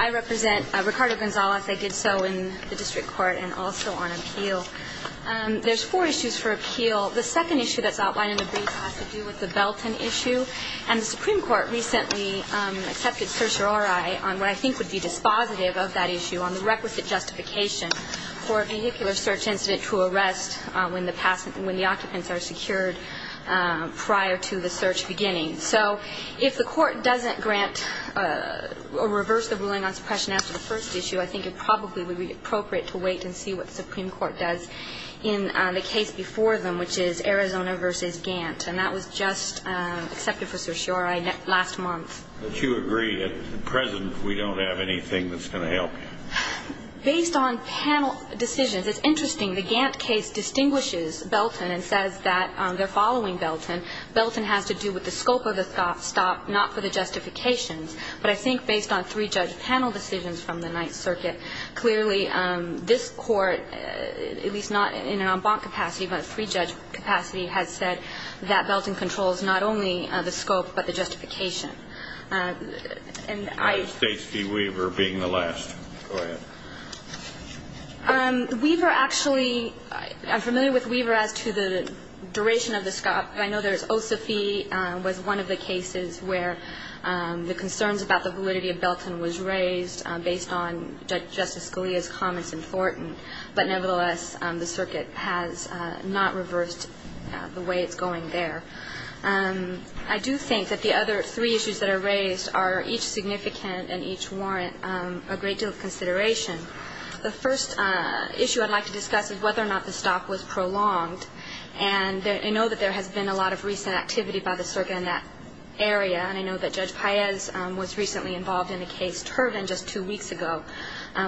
I represent Ricardo Gonzalez. I did so in the district court and also on appeal. There's four issues for appeal. The second issue that's outlined in the brief has to do with the Belton issue. And the Supreme Court recently accepted certiorari on what I think would be dispositive of that issue on the requisite justice of the statute. And I think that's what we're going to have to look at. for a vehicular search incident to arrest when the occupants are secured prior to the search beginning. So if the court doesn't grant or reverse the ruling on suppression after the first issue, I think it probably would be appropriate to wait and see what the Supreme Court does in the case before them, which is Arizona v. Gant. And that was just accepted for certiorari last month. that you agree. At present, we don't have anything that's going to help you. States v. Weaver being the last. Go ahead. I do think that the other three issues that are raised are each significant and each warrant a great deal of consideration. The first issue I'd like to discuss is whether or not the stop was prolonged. And I know that there has been a lot of recent activity by the circuit in that area. And I know that Judge Paez was recently involved in a case, Turvin, just two weeks ago,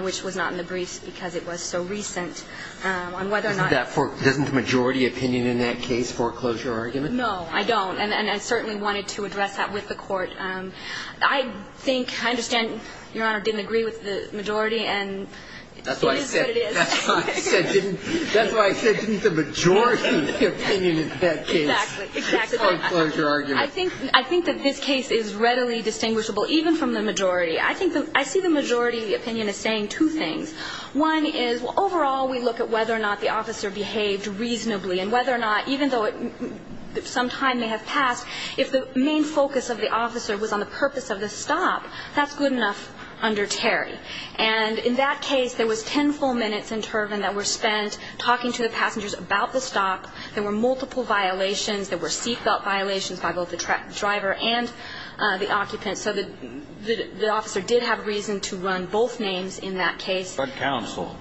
which was not in the briefs because it was so recent on whether or not... Doesn't the majority opinion in that case foreclose your argument? No, I don't. And I certainly wanted to address that with the court. I think, I understand, Your Honor, didn't agree with the majority and it is what it is. That's why I said didn't the majority opinion in that case foreclose your argument. I think that this case is readily distinguishable even from the majority. I see the majority opinion as saying two things. One is overall we look at whether or not the officer behaved reasonably and whether or not, even though some time may have passed, if the main focus of the officer was on the purpose of the stop, that's good enough under Terry. And in that case, there was ten full minutes in Turvin that were spent talking to the passengers about the stop. There were multiple violations. There were seat belt violations by both the driver and the occupant. So the officer did have reason to run both names in that case. But counsel,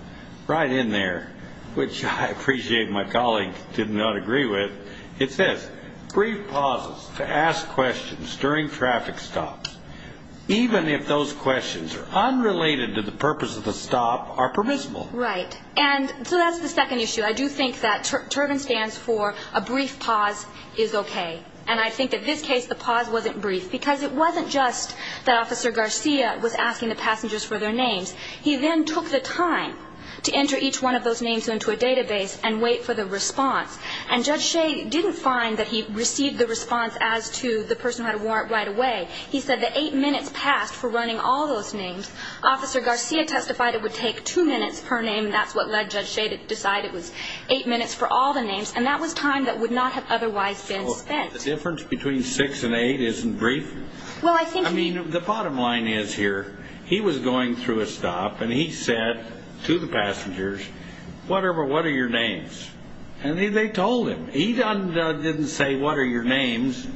right in there, which I appreciate my colleague did not agree with, it says brief pauses to ask questions during traffic stops, even if those questions are unrelated to the purpose of the stop, are permissible. Right. And so that's the second issue. I do think that Turvin stands for a brief pause is okay. And I think that this case the pause wasn't brief because it wasn't just that Officer Garcia was asking the passengers for their names. He then took the time to enter each one of those names into a database and wait for the response. And Judge Shea didn't find that he received the response as to the person who had a warrant right away. He said that eight minutes passed for running all those names. Officer Garcia testified it would take two minutes per name. That's what led Judge Shea to decide it was eight minutes for all the names. And that was time that would not have otherwise been spent. The difference between six and eight isn't brief. I mean, the bottom line is here, he was going through a stop and he said to the passengers, whatever, what are your names? And they told him. He didn't say what are your names.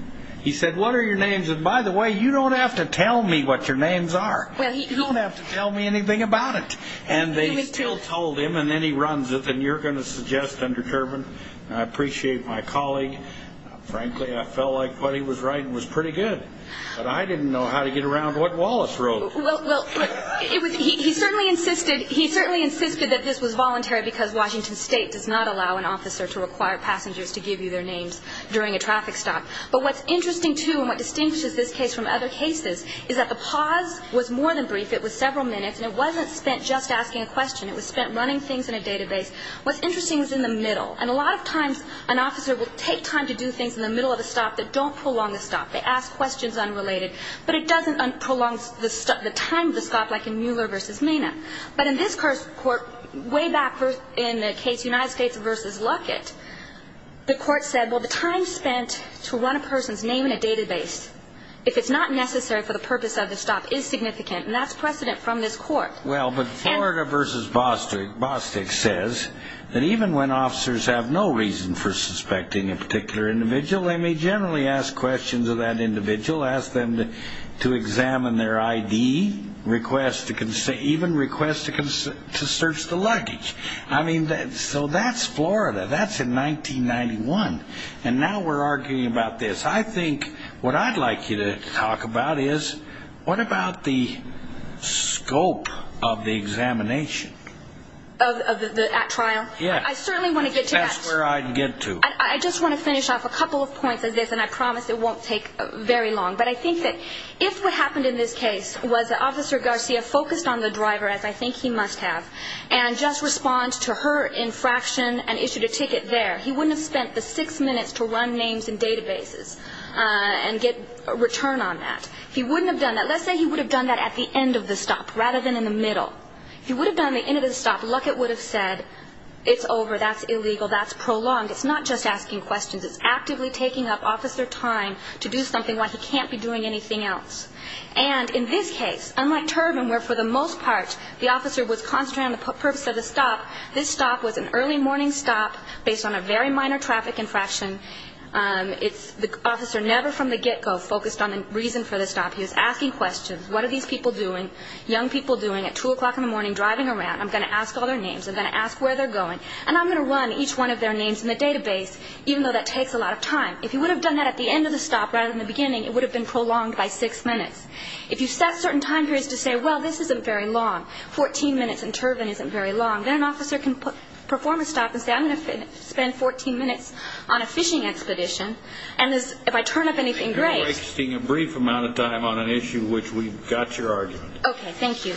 He said, what are your names? And by the way, you don't have to tell me what your names are. You don't have to tell me anything about it. And they still told him and then he runs it and you're going to suggest undetermined. I appreciate my colleague. Frankly, I felt like what he was writing was pretty good. But I didn't know how to get around what Wallace wrote. Well, he certainly insisted that this was voluntary because Washington State does not allow an officer to require passengers to give you their names during a traffic stop. But what's interesting, too, and what distinguishes this case from other cases is that the pause was more than brief. It was several minutes and it wasn't spent just asking a question. It was spent running things in a database. What's interesting is in the middle. And a lot of times an officer will take time to do things in the middle of a stop that don't prolong the stop. They ask questions unrelated. But it doesn't prolong the time of the stop like in Mueller v. Mina. But in this court, way back in the case United States v. Luckett, the court said, well, the time spent to run a person's name in a database, if it's not necessary for the purpose of the stop, is significant. And that's precedent from this court. Well, but Florida v. Bostic says that even when officers have no reason for suspecting a particular individual, they may generally ask questions of that individual, ask them to examine their ID, even request to search the luggage. I mean, so that's Florida. That's in 1991. And now we're arguing about this. I think what I'd like you to talk about is what about the scope of the examination? Of the at trial? Yeah. I certainly want to get to that. That's where I'd get to. I just want to finish off a couple of points of this, and I promise it won't take very long. But I think that if what happened in this case was that Officer Garcia focused on the driver, as I think he must have, and just responds to her infraction and issued a ticket there, he wouldn't have spent the six minutes to run names in databases and get a return on that. He wouldn't have done that. Let's say he would have done that at the end of the stop rather than in the middle. If he would have done it at the end of the stop, Luckett would have said, it's over, that's illegal, that's prolonged. It's not just asking questions. It's actively taking up officer time to do something while he can't be doing anything else. And in this case, unlike Turbin, where for the most part the officer was concentrating on the purpose of the stop, this stop was an early morning stop based on a very minor traffic infraction. It's the officer never from the get-go focused on the reason for the stop. He was asking questions. What are these people doing? Young people doing at 2 o'clock in the morning driving around. I'm going to ask all their names. I'm going to ask where they're going. And I'm going to run each one of their names in the database, even though that takes a lot of time. If he would have done that at the end of the stop rather than the beginning, it would have been prolonged by six minutes. If you set certain time periods to say, well, this isn't very long, 14 minutes, and Turbin isn't very long, then an officer can perform a stop and say, I'm going to spend 14 minutes on a fishing expedition. And if I turn up anything, great. You're wasting a brief amount of time on an issue which we've got your argument. Okay, thank you.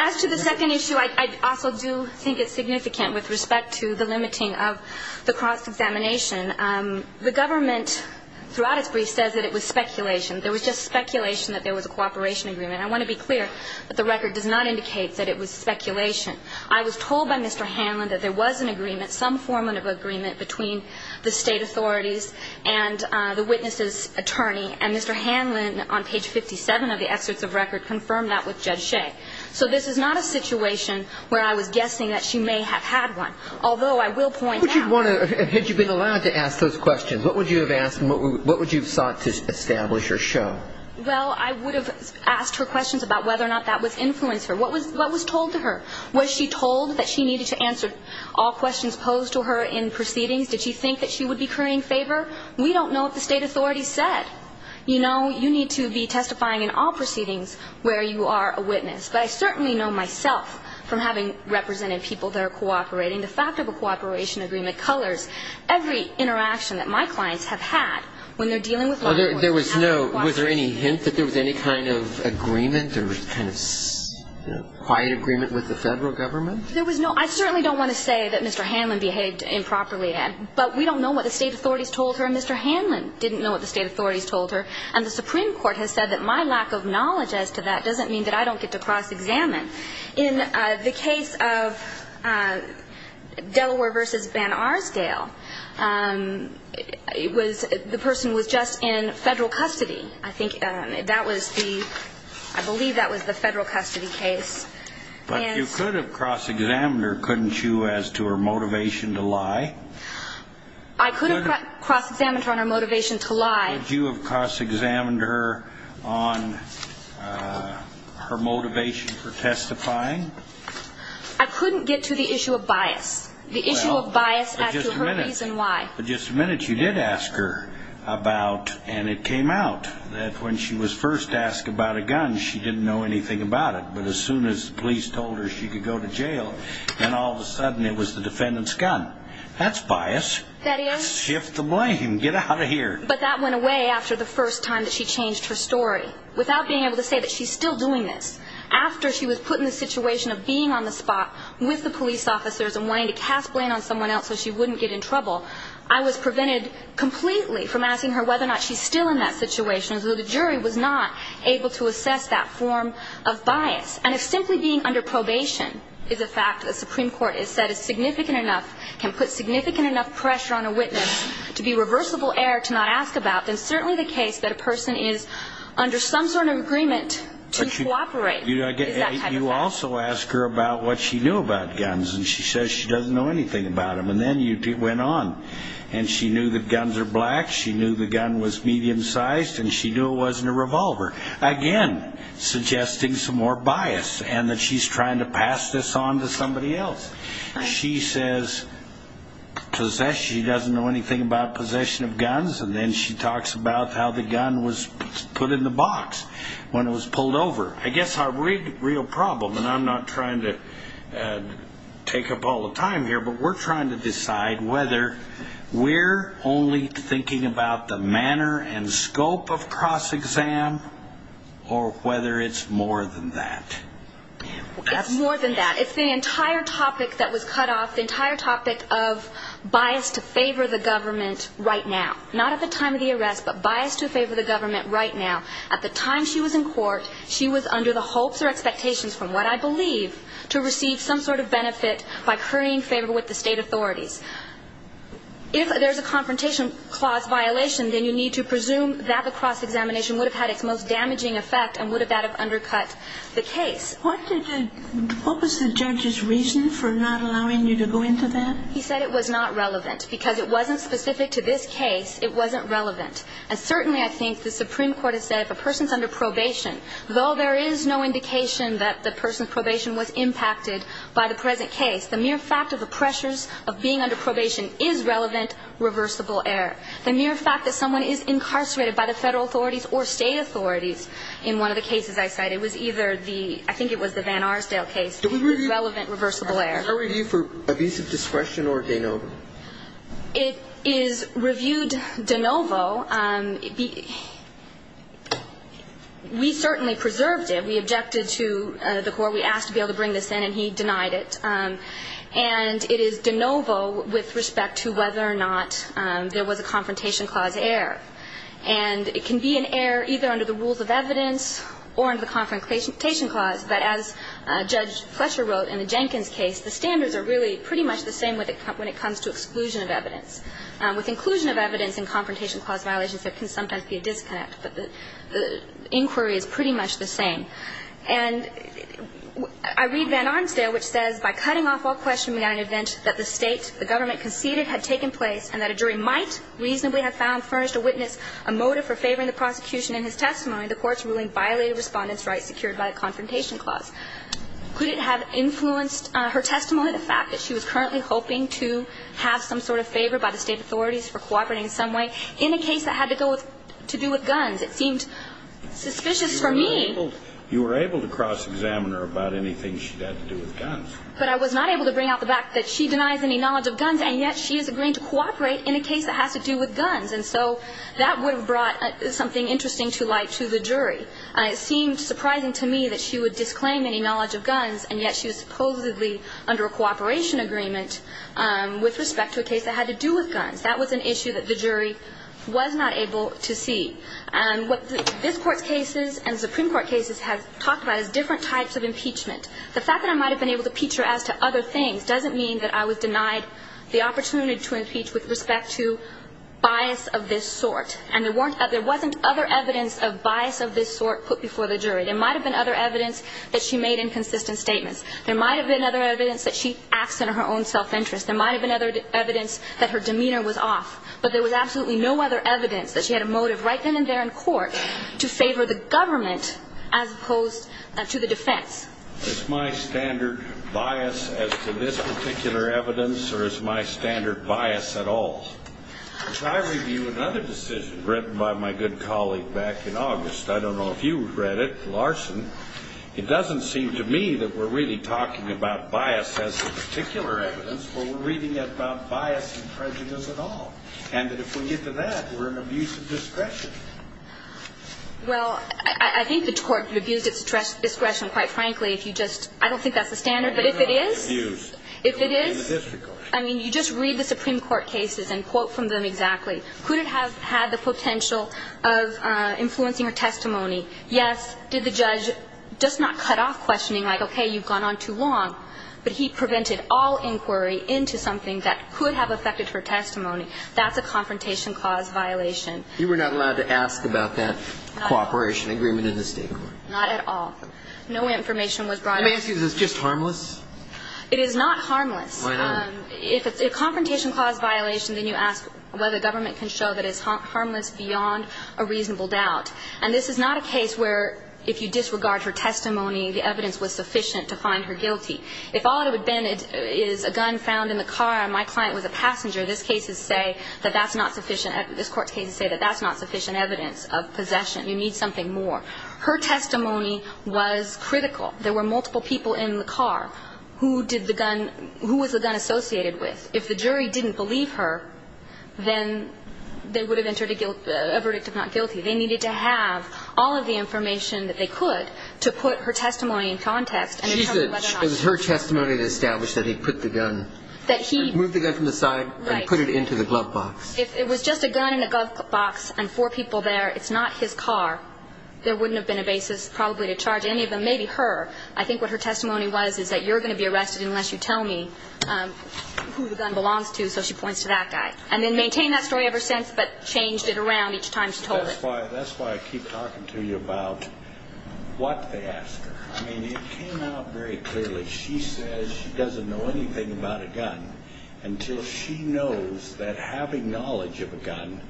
As to the second issue, I also do think it's significant with respect to the limiting of the cross-examination. The government throughout its briefs says that it was speculation. There was just speculation that there was a cooperation agreement. I want to be clear that the record does not indicate that it was speculation. I was told by Mr. Hanlon that there was an agreement, some form of agreement, between the state authorities and the witness's attorney. And Mr. Hanlon, on page 57 of the excerpts of record, confirmed that with Judge Shea. So this is not a situation where I was guessing that she may have had one, although I will point out – Would you want to – had you been allowed to ask those questions, what would you have asked and what would you have sought to establish or show? Well, I would have asked her questions about whether or not that would influence her. What was told to her? Was she told that she needed to answer all questions posed to her in proceedings? Did she think that she would be currying favor? We don't know what the state authorities said. You know, you need to be testifying in all proceedings where you are a witness. But I certainly know myself from having represented people that are cooperating. The fact of a cooperation agreement colors every interaction that my clients have had when they're dealing with law enforcement. There was no – was there any hint that there was any kind of agreement or kind of quiet agreement with the Federal Government? There was no – I certainly don't want to say that Mr. Hanlon behaved improperly, Ed. But we don't know what the state authorities told her and Mr. Hanlon didn't know what the state authorities told her. And the Supreme Court has said that my lack of knowledge as to that doesn't mean that I don't get to cross-examine. In the case of Delaware v. Van Arsdale, it was – the person was just in Federal custody. I think that was the – I believe that was the Federal custody case. But you could have cross-examined her, couldn't you, as to her motivation to lie? I could have cross-examined her on her motivation to lie. Could you have cross-examined her on her motivation for testifying? I couldn't get to the issue of bias, the issue of bias as to her reason why. Well, for just a minute – for just a minute you did ask her about – and it came out that when she was first asked about a gun, she didn't know anything about it. But as soon as the police told her she could go to jail, then all of a sudden it was the defendant's gun. That's bias. That is. Shift the blame. Get out of here. But that went away after the first time that she changed her story, without being able to say that she's still doing this. After she was put in the situation of being on the spot with the police officers and wanting to cast blame on someone else so she wouldn't get in trouble, I was prevented completely from asking her whether or not she's still in that situation, as though the jury was not able to assess that form of bias. And if simply being under probation is a fact that the Supreme Court has said is significant enough, can put significant enough pressure on a witness to be reversible error to not ask about, then certainly the case that a person is under some sort of agreement to cooperate is that type of fact. You also ask her about what she knew about guns, and she says she doesn't know anything about them. And then you went on, and she knew that guns are black, she knew the gun was medium-sized, and she knew it wasn't a revolver. Again, suggesting some more bias, and that she's trying to pass this on to somebody else. She says she doesn't know anything about possession of guns, and then she talks about how the gun was put in the box when it was pulled over. I guess our real problem, and I'm not trying to take up all the time here, but we're trying to decide whether we're only thinking about the manner and scope of cross-exam, or whether it's more than that. It's more than that. It's the entire topic that was cut off, the entire topic of bias to favor the government right now. Not at the time of the arrest, but bias to favor the government right now. At the time she was in court, she was under the hopes or expectations, from what I believe, to receive some sort of benefit by currying favor with the state authorities. If there's a confrontation clause violation, then you need to presume that the cross-examination would have had its most damaging effect, and would that have undercut the case. What was the judge's reason for not allowing you to go into that? He said it was not relevant, because it wasn't specific to this case, it wasn't relevant. And certainly I think the Supreme Court has said if a person's under probation, though there is no indication that the person's probation was impacted by the present case, the mere fact of the pressures of being under probation is relevant, reversible error. The mere fact that someone is incarcerated by the federal authorities or state authorities in one of the cases I cite, it was either the, I think it was the Van Arsdale case, is relevant, reversible error. Is there a review for abusive discretion or de novo? It is reviewed de novo. We certainly preserved it. We objected to the court. We asked to be able to bring this in, and he denied it. And it is de novo with respect to whether or not there was a confrontation clause error. And it can be an error either under the rules of evidence or under the confrontation clause, but as Judge Fletcher wrote in the Jenkins case, the standards are really pretty much the same when it comes to exclusion of evidence. With inclusion of evidence in confrontation clause violations, there can sometimes be a disconnect, but the inquiry is pretty much the same. And I read Van Arsdale, which says, By cutting off all questioning at an event that the state, the government conceded had taken place, and that a jury might reasonably have found furnished a witness a motive for favoring the prosecution in his testimony, the court's ruling violated Respondent's rights secured by the confrontation clause. Could it have influenced her testimony, the fact that she was currently hoping to have some sort of favor by the state authorities for cooperating in some way in a case that had to do with guns? It seemed suspicious for me. You were able to cross-examine her about anything she had to do with guns. But I was not able to bring out the fact that she denies any knowledge of guns, and yet she is agreeing to cooperate in a case that has to do with guns. And it seemed surprising to me that she would disclaim any knowledge of guns, and yet she was supposedly under a cooperation agreement with respect to a case that had to do with guns. That was an issue that the jury was not able to see. What this Court's cases and Supreme Court cases have talked about is different types of impeachment. The fact that I might have been able to impeach her as to other things doesn't mean that I was denied the opportunity to impeach with respect to bias of this sort. And there wasn't other evidence of bias of this sort put before the jury. There might have been other evidence that she made inconsistent statements. There might have been other evidence that she acts in her own self-interest. There might have been other evidence that her demeanor was off. But there was absolutely no other evidence that she had a motive right then and there in court to favor the government as opposed to the defense. Is my standard bias as to this particular evidence, or is my standard bias at all? I review another decision written by my good colleague back in August. I don't know if you read it, Larson. It doesn't seem to me that we're really talking about bias as to particular evidence, but we're reading it about bias and prejudice at all. And that if we get to that, we're in abuse of discretion. Well, I think the Court would abuse its discretion, quite frankly, if you just – I don't think that's the standard, but if it is, if it is, I mean, you just read the Supreme Court cases and quote from them exactly. Could it have had the potential of influencing her testimony? Yes. Did the judge just not cut off questioning, like, okay, you've gone on too long? But he prevented all inquiry into something that could have affected her testimony. That's a confrontation cause violation. You were not allowed to ask about that cooperation agreement in the State Court. Not at all. No information was brought up. Let me ask you, is this just harmless? It is not harmless. Why not? If it's a confrontation cause violation, then you ask whether the government can show that it's harmless beyond a reasonable doubt. And this is not a case where if you disregard her testimony, the evidence was sufficient to find her guilty. If all it would have been is a gun found in the car and my client was a passenger, this case would say that that's not sufficient – this Court's cases say that that's not sufficient evidence of possession. You need something more. Her testimony was critical. There were multiple people in the car. Who did the gun – who was the gun associated with? If the jury didn't believe her, then they would have entered a guilt – a verdict of not guilty. They needed to have all of the information that they could to put her testimony in context. She said it was her testimony that established that he put the gun. That he – Moved the gun from the side and put it into the glove box. Right. If it was just a gun in a glove box and four people there, it's not his car, there wouldn't have been a basis probably to charge any of them. Maybe her. I think what her testimony was is that you're going to be arrested unless you tell me who the gun belongs to. So she points to that guy. And then maintained that story ever since, but changed it around each time she told it. That's why I keep talking to you about what they asked her. I mean, it came out very clearly. She says she doesn't know anything about a gun until she knows that having knowledge of a gun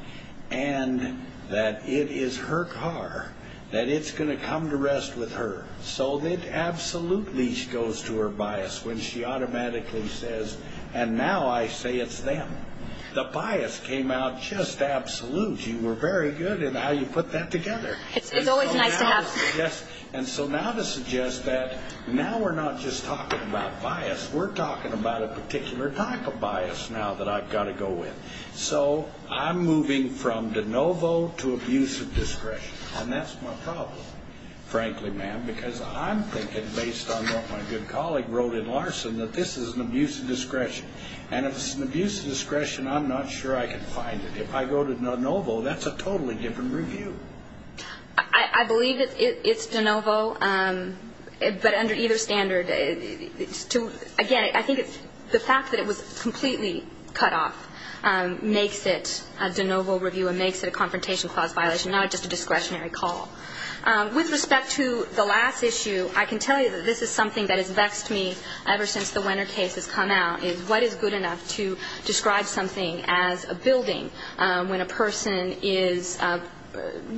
and that it is her car, that it's going to come to rest with her. So it absolutely goes to her bias when she automatically says, and now I say it's them. The bias came out just absolute. You were very good in how you put that together. It's always nice to have. Yes. And so now to suggest that now we're not just talking about bias, we're talking about a particular type of bias now that I've got to go with. So I'm moving from de novo to abuse of discretion. And that's my problem, frankly, ma'am, because I'm thinking based on what my good colleague wrote in Larson, that this is an abuse of discretion. And if it's an abuse of discretion, I'm not sure I can find it. If I go to de novo, that's a totally different review. I believe that it's de novo, but under either standard. Again, I think the fact that it was completely cut off makes it a de novo review and makes it a confrontation clause violation, not just a discretionary call. With respect to the last issue, I can tell you that this is something that has vexed me ever since the Wenner case has come out, is what is good enough to describe something as a building when a person is,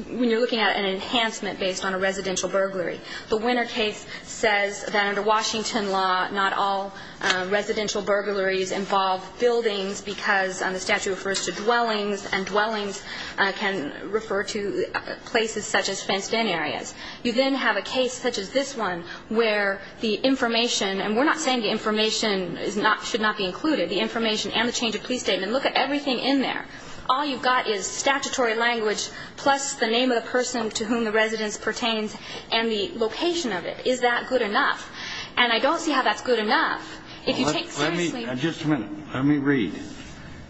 when you're looking at an enhancement based on a residential burglary. The Wenner case says that under Washington law, not all residential burglaries involve buildings because the statute refers to dwellings, and dwellings can refer to places such as fenced-in areas. You then have a case such as this one where the information, and we're not saying the information should not be included, the information and the change of police statement, look at everything in there. All you've got is statutory language plus the name of the person to whom the residence pertains and the location of it. Is that good enough? And I don't see how that's good enough. If you take seriously. Just a minute. Let me read.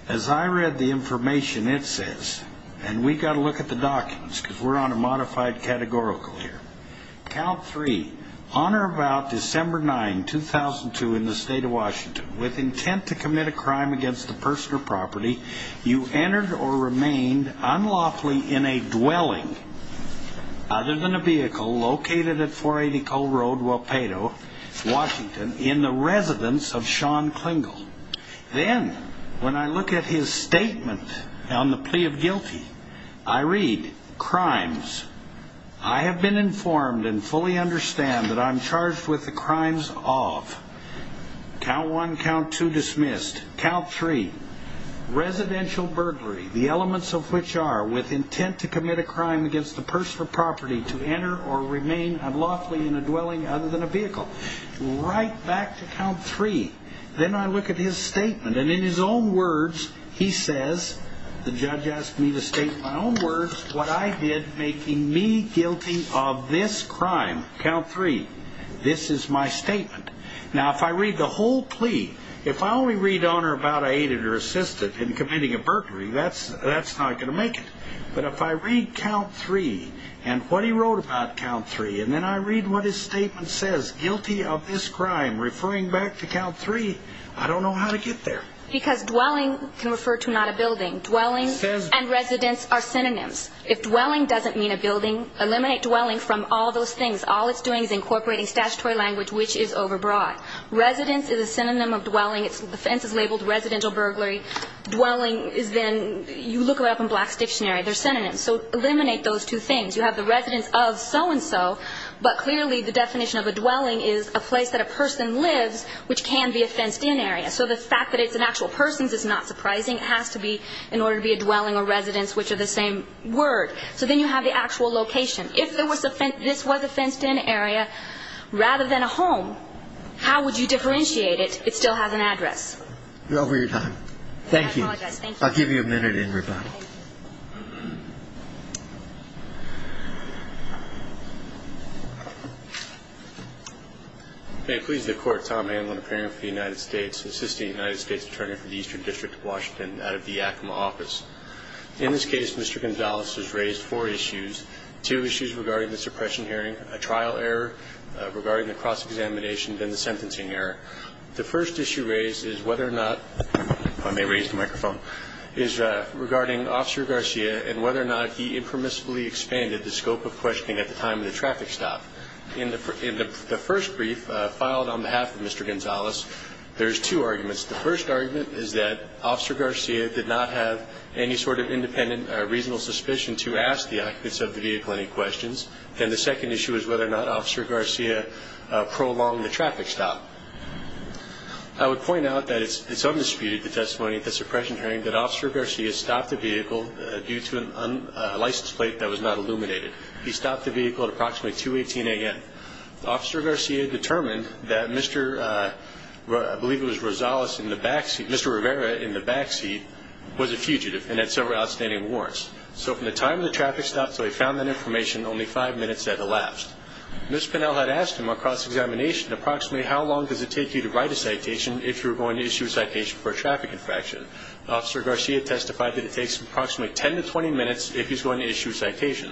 As I read the information, it says, and we've got to look at the documents because we're on a modified categorical here. Count three. On or about December 9, 2002, in the state of Washington, with intent to commit a crime against a person or property, you entered or remained unlawfully in a dwelling, other than a vehicle located at 480 Cole Road, Wapato, Washington, in the residence of Shawn Klingle. Then when I look at his statement on the plea of guilty, I read, Crimes. I have been informed and fully understand that I'm charged with the crimes of, count one, count two, dismissed. Count three. Residential burglary, the elements of which are, with intent to commit a crime against a person or property, to enter or remain unlawfully in a dwelling other than a vehicle. Right back to count three. Then I look at his statement, and in his own words, he says, the judge asked me to state in my own words what I did, making me guilty of this crime. Count three. This is my statement. Now, if I read the whole plea, if I only read on or about I aided or assisted in committing a burglary, that's not going to make it. But if I read count three and what he wrote about count three, and then I read what his statement says, guilty of this crime, referring back to count three, I don't know how to get there. Because dwelling can refer to not a building. Dwelling and residence are synonyms. If dwelling doesn't mean a building, eliminate dwelling from all those things. All it's doing is incorporating statutory language, which is overbroad. Residence is a synonym of dwelling. The offense is labeled residential burglary. Dwelling is then, you look it up in Black's dictionary. They're synonyms. So eliminate those two things. You have the residence of so-and-so, but clearly the definition of a dwelling is a place that a person lives, which can be a fenced-in area. So the fact that it's an actual person's is not surprising. It has to be in order to be a dwelling or residence, which are the same word. So then you have the actual location. If this was a fenced-in area rather than a home, how would you differentiate it? It still has an address. You're over your time. Thank you. I apologize. Thank you. I'll give you a minute in rebuttal. May it please the Court. Tom Hanlon, appearing for the United States, assisting the United States Attorney for the Eastern District of Washington out of the Yakima office. In this case, Mr. Gonzales has raised four issues, two issues regarding the suppression hearing, a trial error regarding the cross-examination and the sentencing error. The first issue raised is whether or not, if I may raise the microphone, is regarding Officer Garcia and whether or not he impermissibly expanded the scope of questioning at the time of the traffic stop. In the first brief filed on behalf of Mr. Gonzales, there's two arguments. The first argument is that Officer Garcia did not have any sort of independent or reasonable suspicion to ask the occupants of the vehicle any questions. Then the second issue is whether or not Officer Garcia prolonged the traffic stop. I would point out that it's undisputed, the testimony at the suppression hearing, that Officer Garcia stopped the vehicle due to a license plate that was not illuminated. He stopped the vehicle at approximately 218 A.N. Officer Garcia determined that Mr. I believe it was Rosales in the backseat, Mr. Rivera in the backseat was a fugitive and had several outstanding warrants. So from the time of the traffic stop until he found that information, only five minutes had elapsed. Ms. Pinnell had asked him on cross-examination approximately how long does it take you to write a citation if you're going to issue a citation for a traffic infraction. Officer Garcia testified that it takes approximately 10 to 20 minutes if he's going to issue a citation.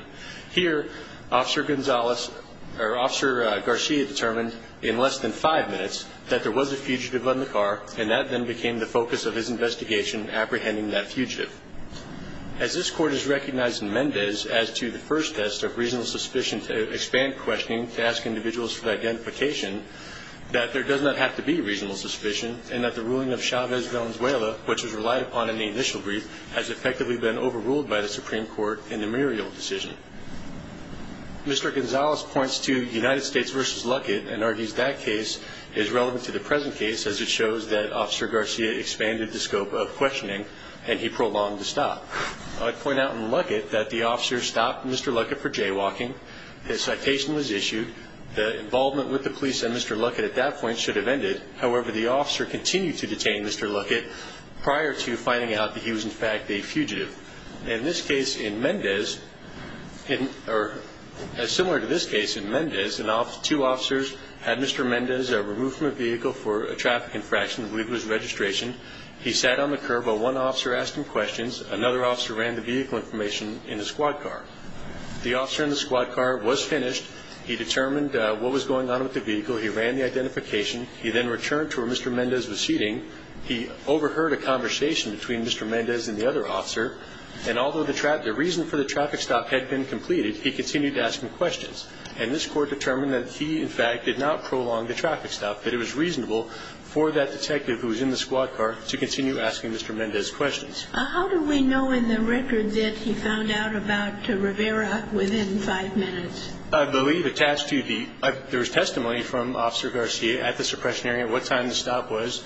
Here, Officer Garcia determined in less than five minutes that there was a fugitive in the car and that then became the focus of his investigation apprehending that fugitive. As this Court has recognized in Mendez as to the first test of reasonable suspicion to expand questioning to ask individuals for identification, that there does not have to be reasonable suspicion and that the ruling of Chavez-Valenzuela, which was relied upon in the initial brief, has effectively been overruled by the Supreme Court in the Muriel decision. Mr. Gonzalez points to United States v. Luckett and argues that case is relevant to the present case as it shows that Officer Garcia expanded the scope of questioning and he prolonged the stop. I'd point out in Luckett that the officer stopped Mr. Luckett for jaywalking, his citation was issued, the involvement with the police and Mr. Luckett at that point should have ended. However, the officer continued to detain Mr. Luckett prior to finding out that he was in fact a fugitive. In this case in Mendez, or similar to this case in Mendez, two officers had Mr. Mendez removed from a vehicle for a traffic infraction, I believe it was registration. He sat on the curb while one officer asked him questions. Another officer ran the vehicle information in his squad car. The officer in the squad car was finished. He determined what was going on with the vehicle. He ran the identification. He then returned to where Mr. Mendez was seating. He overheard a conversation between Mr. Mendez and the other officer, and although the reason for the traffic stop had been completed, he continued to ask him questions. And this court determined that he, in fact, did not prolong the traffic stop, that it was reasonable for that detective who was in the squad car to continue asking Mr. Mendez questions. How do we know in the record that he found out about Rivera within five minutes? I believe attached to the – there was testimony from Officer Garcia at the suppression area, what time the stop was,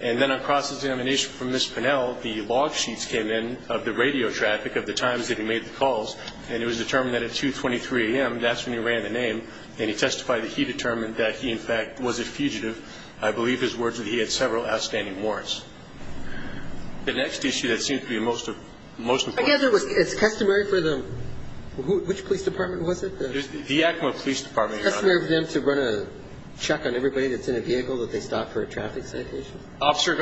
and then across the examination from Ms. Pinnell, the log sheets came in of the radio traffic of the times that he made the calls, and it was determined that at 2.23 a.m. that's when he ran the name, and he testified that he determined that he, in fact, was a fugitive. I believe his words were that he had several outstanding warrants. The next issue that seems to be the most important. I guess it's customary for the – which police department was it? The Yakima Police Department. It's customary for them to run a check on everybody that's in a vehicle that they stop for a traffic stop? Officer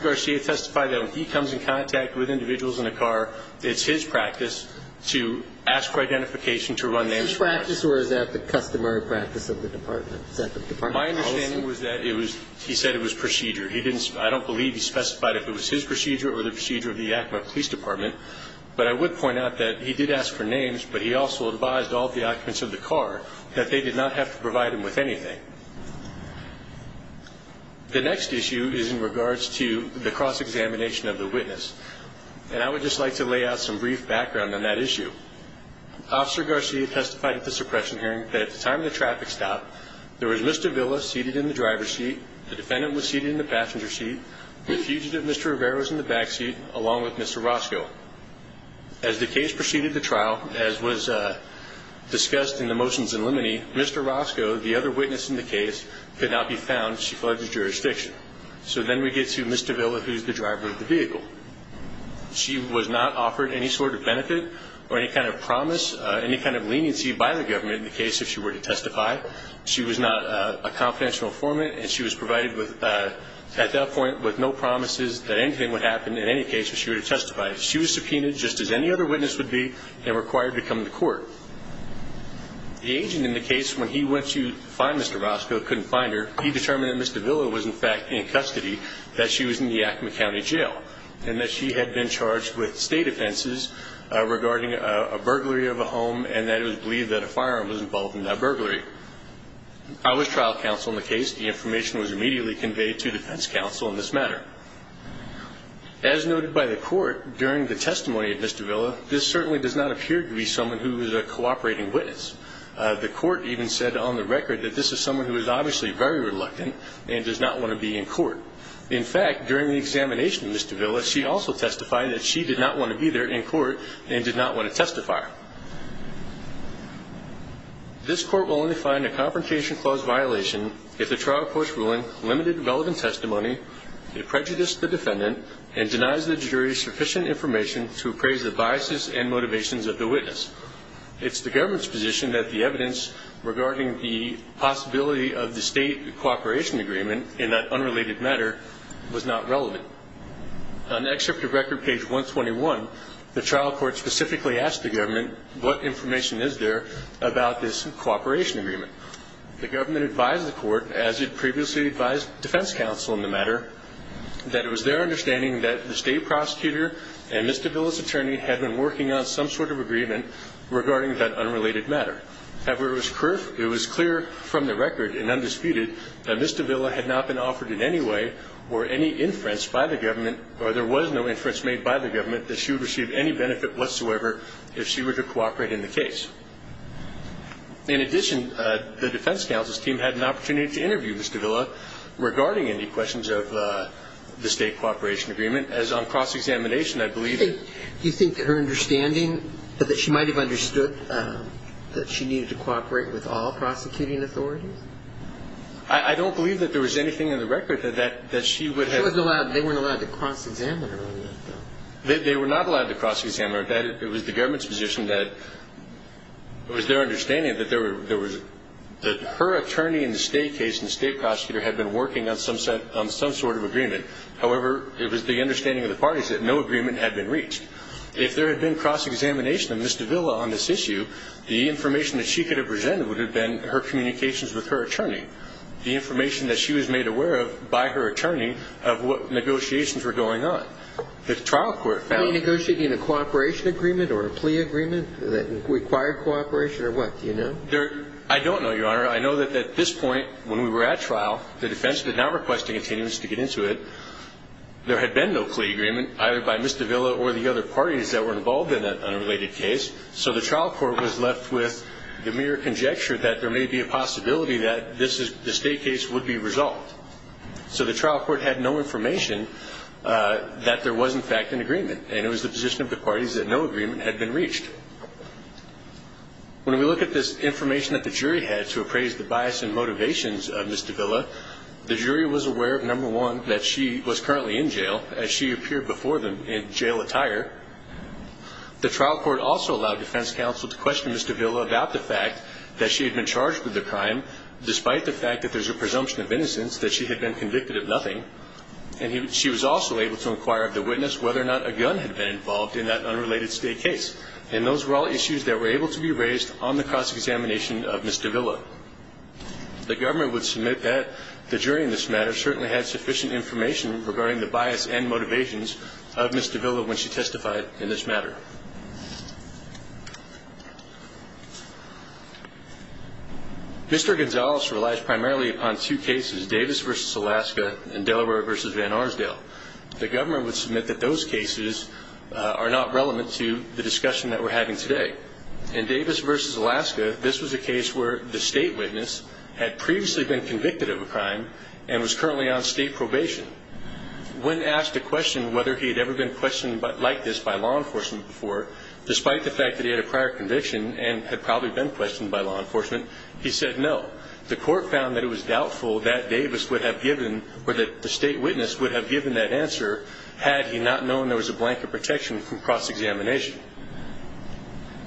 Garcia testified that when he comes in contact with individuals in a car, it's his practice to ask for identification to run names. Is this practice, or is that the customary practice of the department? Is that the department's policy? My understanding was that it was – he said it was procedure. He didn't – I don't believe he specified if it was his procedure or the procedure of the Yakima Police Department, but I would point out that he did ask for names, but he also advised all the occupants of the car that they did not have to provide him with anything. The next issue is in regards to the cross-examination of the witness, and I would just like to lay out some brief background on that issue. Officer Garcia testified at the suppression hearing that at the time of the traffic stop, there was Mr. Villa seated in the driver's seat. The defendant was seated in the passenger seat. The fugitive, Mr. Rivera, was in the backseat along with Mr. Roscoe. As the case proceeded the trial, as was discussed in the motions in limine, Mr. Roscoe, the other witness in the case, could not be found. She fled the jurisdiction. So then we get to Mr. Villa, who's the driver of the vehicle. She was not offered any sort of benefit or any kind of promise, any kind of leniency by the government in the case if she were to testify. She was not a confidential informant, and she was provided at that point with no promises that anything would happen in any case if she were to testify. She was subpoenaed just as any other witness would be and required to come to court. The agent in the case, when he went to find Mr. Roscoe, couldn't find her. He determined that Mr. Villa was, in fact, in custody, that she was in the Yakima County Jail, and that she had been charged with state offenses regarding a burglary of a home and that it was believed that a firearm was involved in that burglary. I was trial counsel in the case. The information was immediately conveyed to defense counsel in this matter. As noted by the court during the testimony of Mr. Villa, this certainly does not appear to be someone who is a cooperating witness. The court even said on the record that this is someone who is obviously very reluctant and does not want to be in court. In fact, during the examination of Mr. Villa, she also testified that she did not want to be there in court and did not want to testify. This court will only find a Confrontation Clause violation if the trial court's ruling limited relevant testimony, it prejudiced the defendant, and denies the jury sufficient information to appraise the biases and motivations of the witness. It's the government's position that the evidence regarding the possibility of the state cooperation agreement in that unrelated matter was not relevant. On the excerpt of record, page 121, the trial court specifically asked the government what information is there about this cooperation agreement. The government advised the court, as it previously advised defense counsel in the matter, that it was their understanding that the state prosecutor and Ms. de Villa's attorney had been working on some sort of agreement regarding that unrelated matter. However, it was clear from the record and undisputed that Ms. de Villa had not been offered in any way or any inference by the government, or there was no inference made by the government, that she would receive any benefit whatsoever if she were to cooperate in the case. In addition, the defense counsel's team had an opportunity to interview Ms. de Villa regarding any questions of the state cooperation agreement Do you think that her understanding, that she might have understood that she needed to cooperate with all prosecuting authorities? I don't believe that there was anything in the record that she would have They weren't allowed to cross-examine her. They were not allowed to cross-examine her. It was the government's position that it was their understanding that her attorney in the state case and the state prosecutor had been working on some sort of agreement. However, it was the understanding of the parties that no agreement had been reached. If there had been cross-examination of Ms. de Villa on this issue, the information that she could have presented would have been her communications with her attorney, the information that she was made aware of by her attorney of what negotiations were going on. The trial court found Were they negotiating a cooperation agreement or a plea agreement that required cooperation or what? Do you know? I don't know, Your Honor. I know that at this point when we were at trial, the defense did not request a continuance to get into it. There had been no plea agreement either by Ms. de Villa or the other parties that were involved in that unrelated case. So the trial court was left with the mere conjecture that there may be a possibility that the state case would be resolved. So the trial court had no information that there was, in fact, an agreement, and it was the position of the parties that no agreement had been reached. When we look at this information that the jury had to appraise the bias and motivations of Ms. de Villa, the jury was aware, number one, that she was currently in jail, as she appeared before them in jail attire. The trial court also allowed defense counsel to question Ms. de Villa about the fact that she had been charged with the crime, despite the fact that there's a presumption of innocence, that she had been convicted of nothing, and she was also able to inquire of the witness whether or not a gun had been involved in that unrelated state case. And those were all issues that were able to be raised on the cross-examination of Ms. de Villa. The government would submit that the jury in this matter certainly had sufficient information regarding the bias and motivations of Ms. de Villa when she testified in this matter. Mr. Gonzalez relies primarily upon two cases, Davis v. Alaska and Delaware v. Van Arsdale. The government would submit that those cases are not relevant to the discussion that we're having today. In Davis v. Alaska, this was a case where the state witness had previously been convicted of a crime and was currently on state probation. When asked to question whether he had ever been questioned like this by law enforcement before, despite the fact that he had a prior conviction and had probably been questioned by law enforcement, he said no. The court found that it was doubtful that Davis would have given or that the state witness would have given that answer had he not known there was a blanket protection from cross-examination.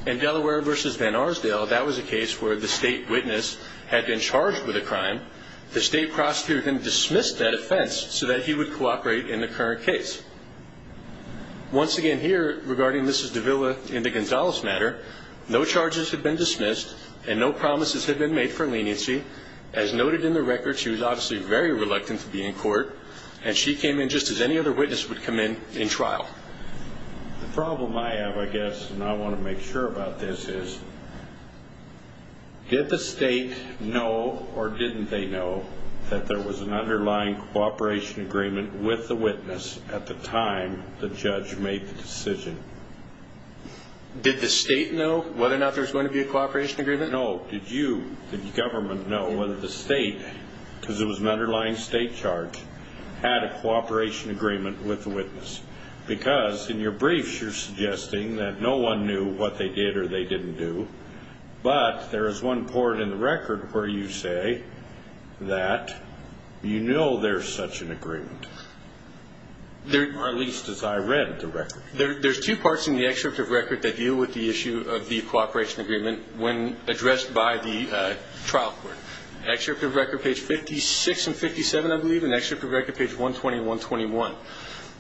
In Delaware v. Van Arsdale, that was a case where the state witness had been charged with a crime. The state prosecutor then dismissed that offense so that he would cooperate in the current case. Once again here, regarding Ms. de Villa in the Gonzalez matter, no charges had been dismissed and no promises had been made for leniency. As noted in the record, she was obviously very reluctant to be in court, and she came in just as any other witness would come in in trial. The problem I have, I guess, and I want to make sure about this is, did the state know or didn't they know that there was an underlying cooperation agreement with the witness at the time the judge made the decision? Did the state know whether or not there was going to be a cooperation agreement? No. Did you, the government, know whether the state, because it was an underlying state charge, had a cooperation agreement with the witness? Because in your briefs you're suggesting that no one knew what they did or they didn't do, but there is one part in the record where you say that you know there's such an agreement, or at least as I read the record. There's two parts in the excerpt of record that deal with the issue of the cooperation agreement when addressed by the trial court, excerpt of record page 56 and 57, I believe, and excerpt of record page 120 and 121.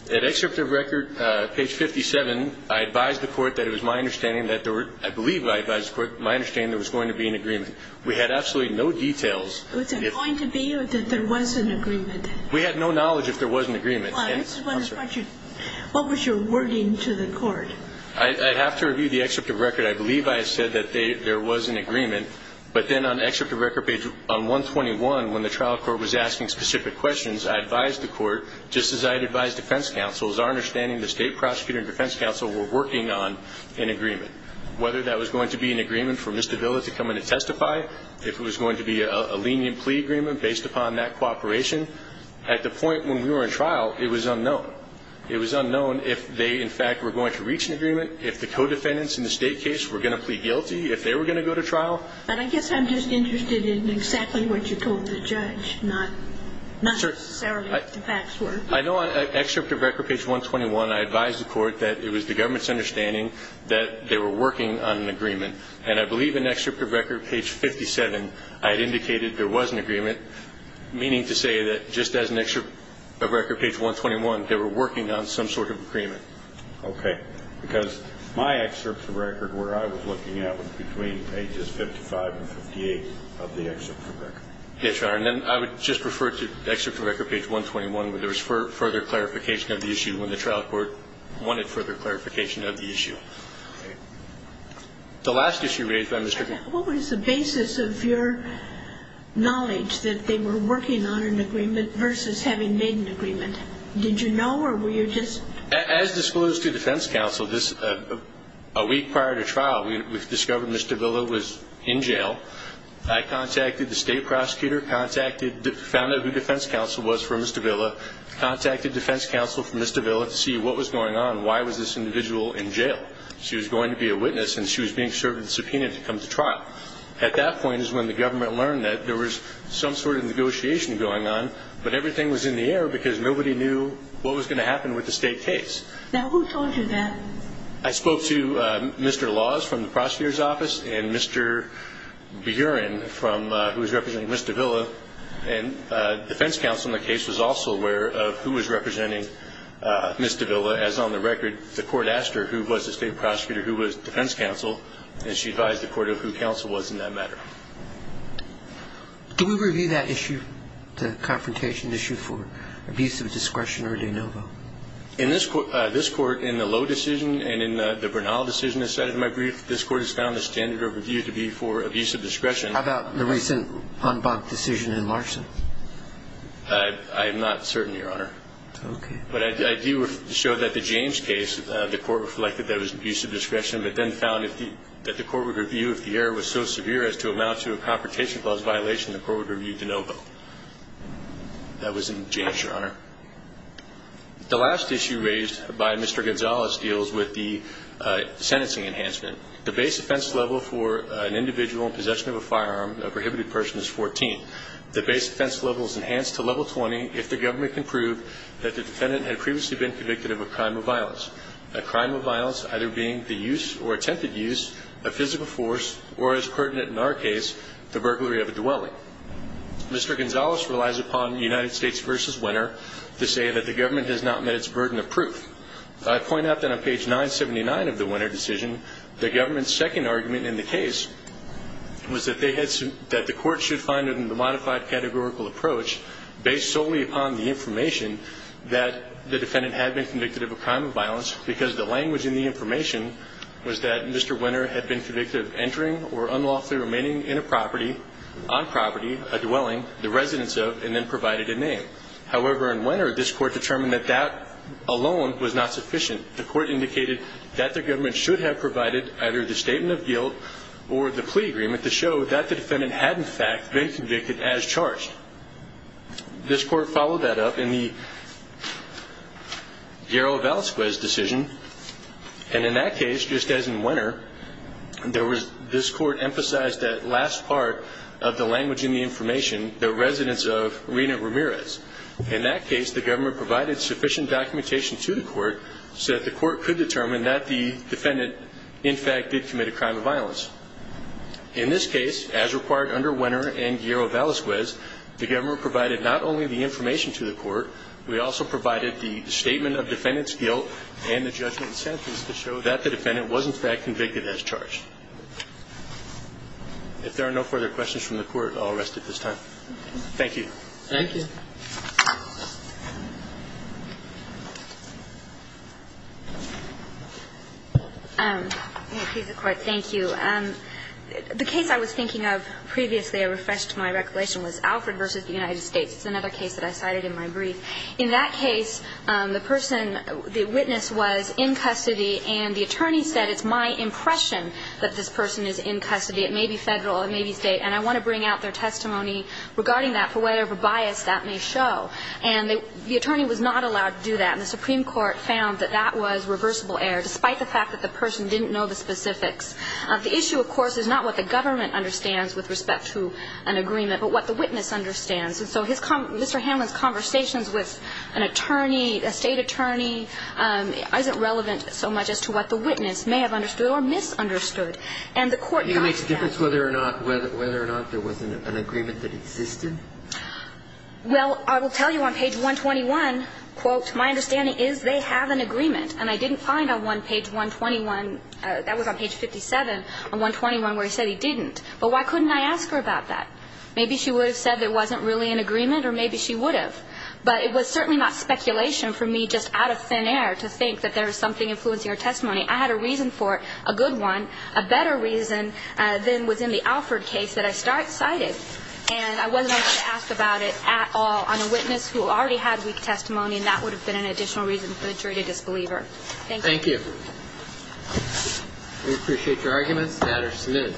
At excerpt of record page 57, I advised the court that it was my understanding that there were, I believe I advised the court, my understanding there was going to be an agreement. We had absolutely no details. Was there going to be or that there was an agreement? We had no knowledge if there was an agreement. What was your wording to the court? I have to review the excerpt of record. I believe I said that there was an agreement, but then on excerpt of record page 121, when the trial court was asking specific questions, I advised the court, just as I advised defense counsel, it was our understanding the state prosecutor and defense counsel were working on an agreement. Whether that was going to be an agreement for Mr. Villa to come in and testify, if it was going to be a lenient plea agreement based upon that cooperation. At the point when we were in trial, it was unknown. It was unknown if they, in fact, were going to reach an agreement, if the co-defendants in the state case were going to plead guilty, if they were going to go to trial. But I guess I'm just interested in exactly what you told the judge, not necessarily what the facts were. I know on excerpt of record page 121, I advised the court that it was the government's understanding that they were working on an agreement. And I believe in excerpt of record page 57, I had indicated there was an agreement, meaning to say that just as an excerpt of record page 121, they were working on some sort of agreement. Okay. Because my excerpt of record, where I was looking at, was between pages 55 and 58 of the excerpt of record. Yes, Your Honor. And then I would just refer to excerpt of record page 121, where there was further clarification of the issue when the trial court wanted further clarification of the issue. Okay. The last issue raised by Mr. Gifford. What was the basis of your knowledge that they were working on an agreement versus having made an agreement? Did you know, or were you just? As disclosed to defense counsel, a week prior to trial, we discovered Ms. Davila was in jail. I contacted the state prosecutor, found out who defense counsel was for Ms. Davila, contacted defense counsel for Ms. Davila to see what was going on. Why was this individual in jail? She was going to be a witness, and she was being served a subpoena to come to trial. At that point is when the government learned that there was some sort of negotiation going on, but everything was in the air because nobody knew what was going to happen with the state case. Now, who told you that? I spoke to Mr. Laws from the prosecutor's office and Mr. Buren, who was representing Ms. Davila, and defense counsel in the case was also aware of who was representing Ms. Davila. As on the record, the court asked her who was the state prosecutor, who was defense counsel, and she advised the court of who counsel was in that matter. Do we review that issue, the confrontation issue, for abuse of discretion or de novo? In this court, in the Lowe decision and in the Bernal decision that's cited in my brief, this court has found the standard of review to be for abuse of discretion. How about the recent Humbug decision in Larson? I am not certain, Your Honor. Okay. But I do show that the James case, the court reflected that it was abuse of discretion, but then found that the court would review if the error was so severe as to amount to a confrontation clause violation, the court would review de novo. That was in James, Your Honor. The last issue raised by Mr. Gonzalez deals with the sentencing enhancement. The base offense level for an individual in possession of a firearm, a prohibited person, is 14. The base offense level is enhanced to level 20 if the government can prove that the defendant had previously been convicted of a crime of violence, a crime of violence either being the use or attempted use of physical force or, as pertinent in our case, the burglary of a dwelling. Mr. Gonzalez relies upon United States v. Winter to say that the government has not met its burden of proof. I point out that on page 979 of the Winter decision, the government's second argument in the case was that the court should find it in the modified categorical approach based solely upon the information that the defendant had been convicted of a crime of violence because the language in the information was that Mr. Winter had been convicted of entering or unlawfully remaining in a property, on property, a dwelling, the residence of, and then provided a name. However, in Winter, this court determined that that alone was not sufficient. The court indicated that the government should have provided either the statement of guilt or the plea agreement to show that the defendant had, in fact, been convicted as charged. This court followed that up in the Darrell Valasquez decision, and in that case, just as in Winter, this court emphasized that last part of the language in the information, the residence of Rina Ramirez. In that case, the government provided sufficient documentation to the court so that the court could determine that the defendant, in fact, did commit a crime of violence. In this case, as required under Winter and Guillermo Valasquez, the government provided not only the information to the court, we also provided the statement of defendant's guilt and the judgment and sentence to show that the defendant was, in fact, convicted as charged. If there are no further questions from the court, I'll rest at this time. Thank you. Thank you. I'm going to please the Court. Thank you. The case I was thinking of previously, I refreshed my recollection, was Alfred v. United States. It's another case that I cited in my brief. In that case, the person, the witness was in custody, and the attorney said, it's my impression that this person is in custody. It may be Federal. It may be State. And I want to bring out their testimony regarding that for whatever bias that may show. And the attorney was not allowed to do that. And the Supreme Court found that that was reversible error, despite the fact that the person didn't know the specifics. The issue, of course, is not what the government understands with respect to an agreement, but what the witness understands. And so Mr. Hanlon's conversations with an attorney, a State attorney, isn't relevant so much as to what the witness may have understood or misunderstood. And the Court got to that. Do you think it makes a difference whether or not there was an agreement that existed? Well, I will tell you on page 121, quote, my understanding is they have an agreement. And I didn't find on page 121, that was on page 57, on 121, where he said he didn't. But why couldn't I ask her about that? Maybe she would have said there wasn't really an agreement, or maybe she would have. But it was certainly not speculation for me, just out of thin air, to think that there was something influencing her testimony. I had a reason for it, a good one, a better reason than was in the Alford case that I cited. And I wasn't able to ask about it at all on a witness who already had weak testimony, and that would have been an additional reason for the jury to disbelieve her. Thank you. Thank you. We appreciate your arguments. The matter is submitted.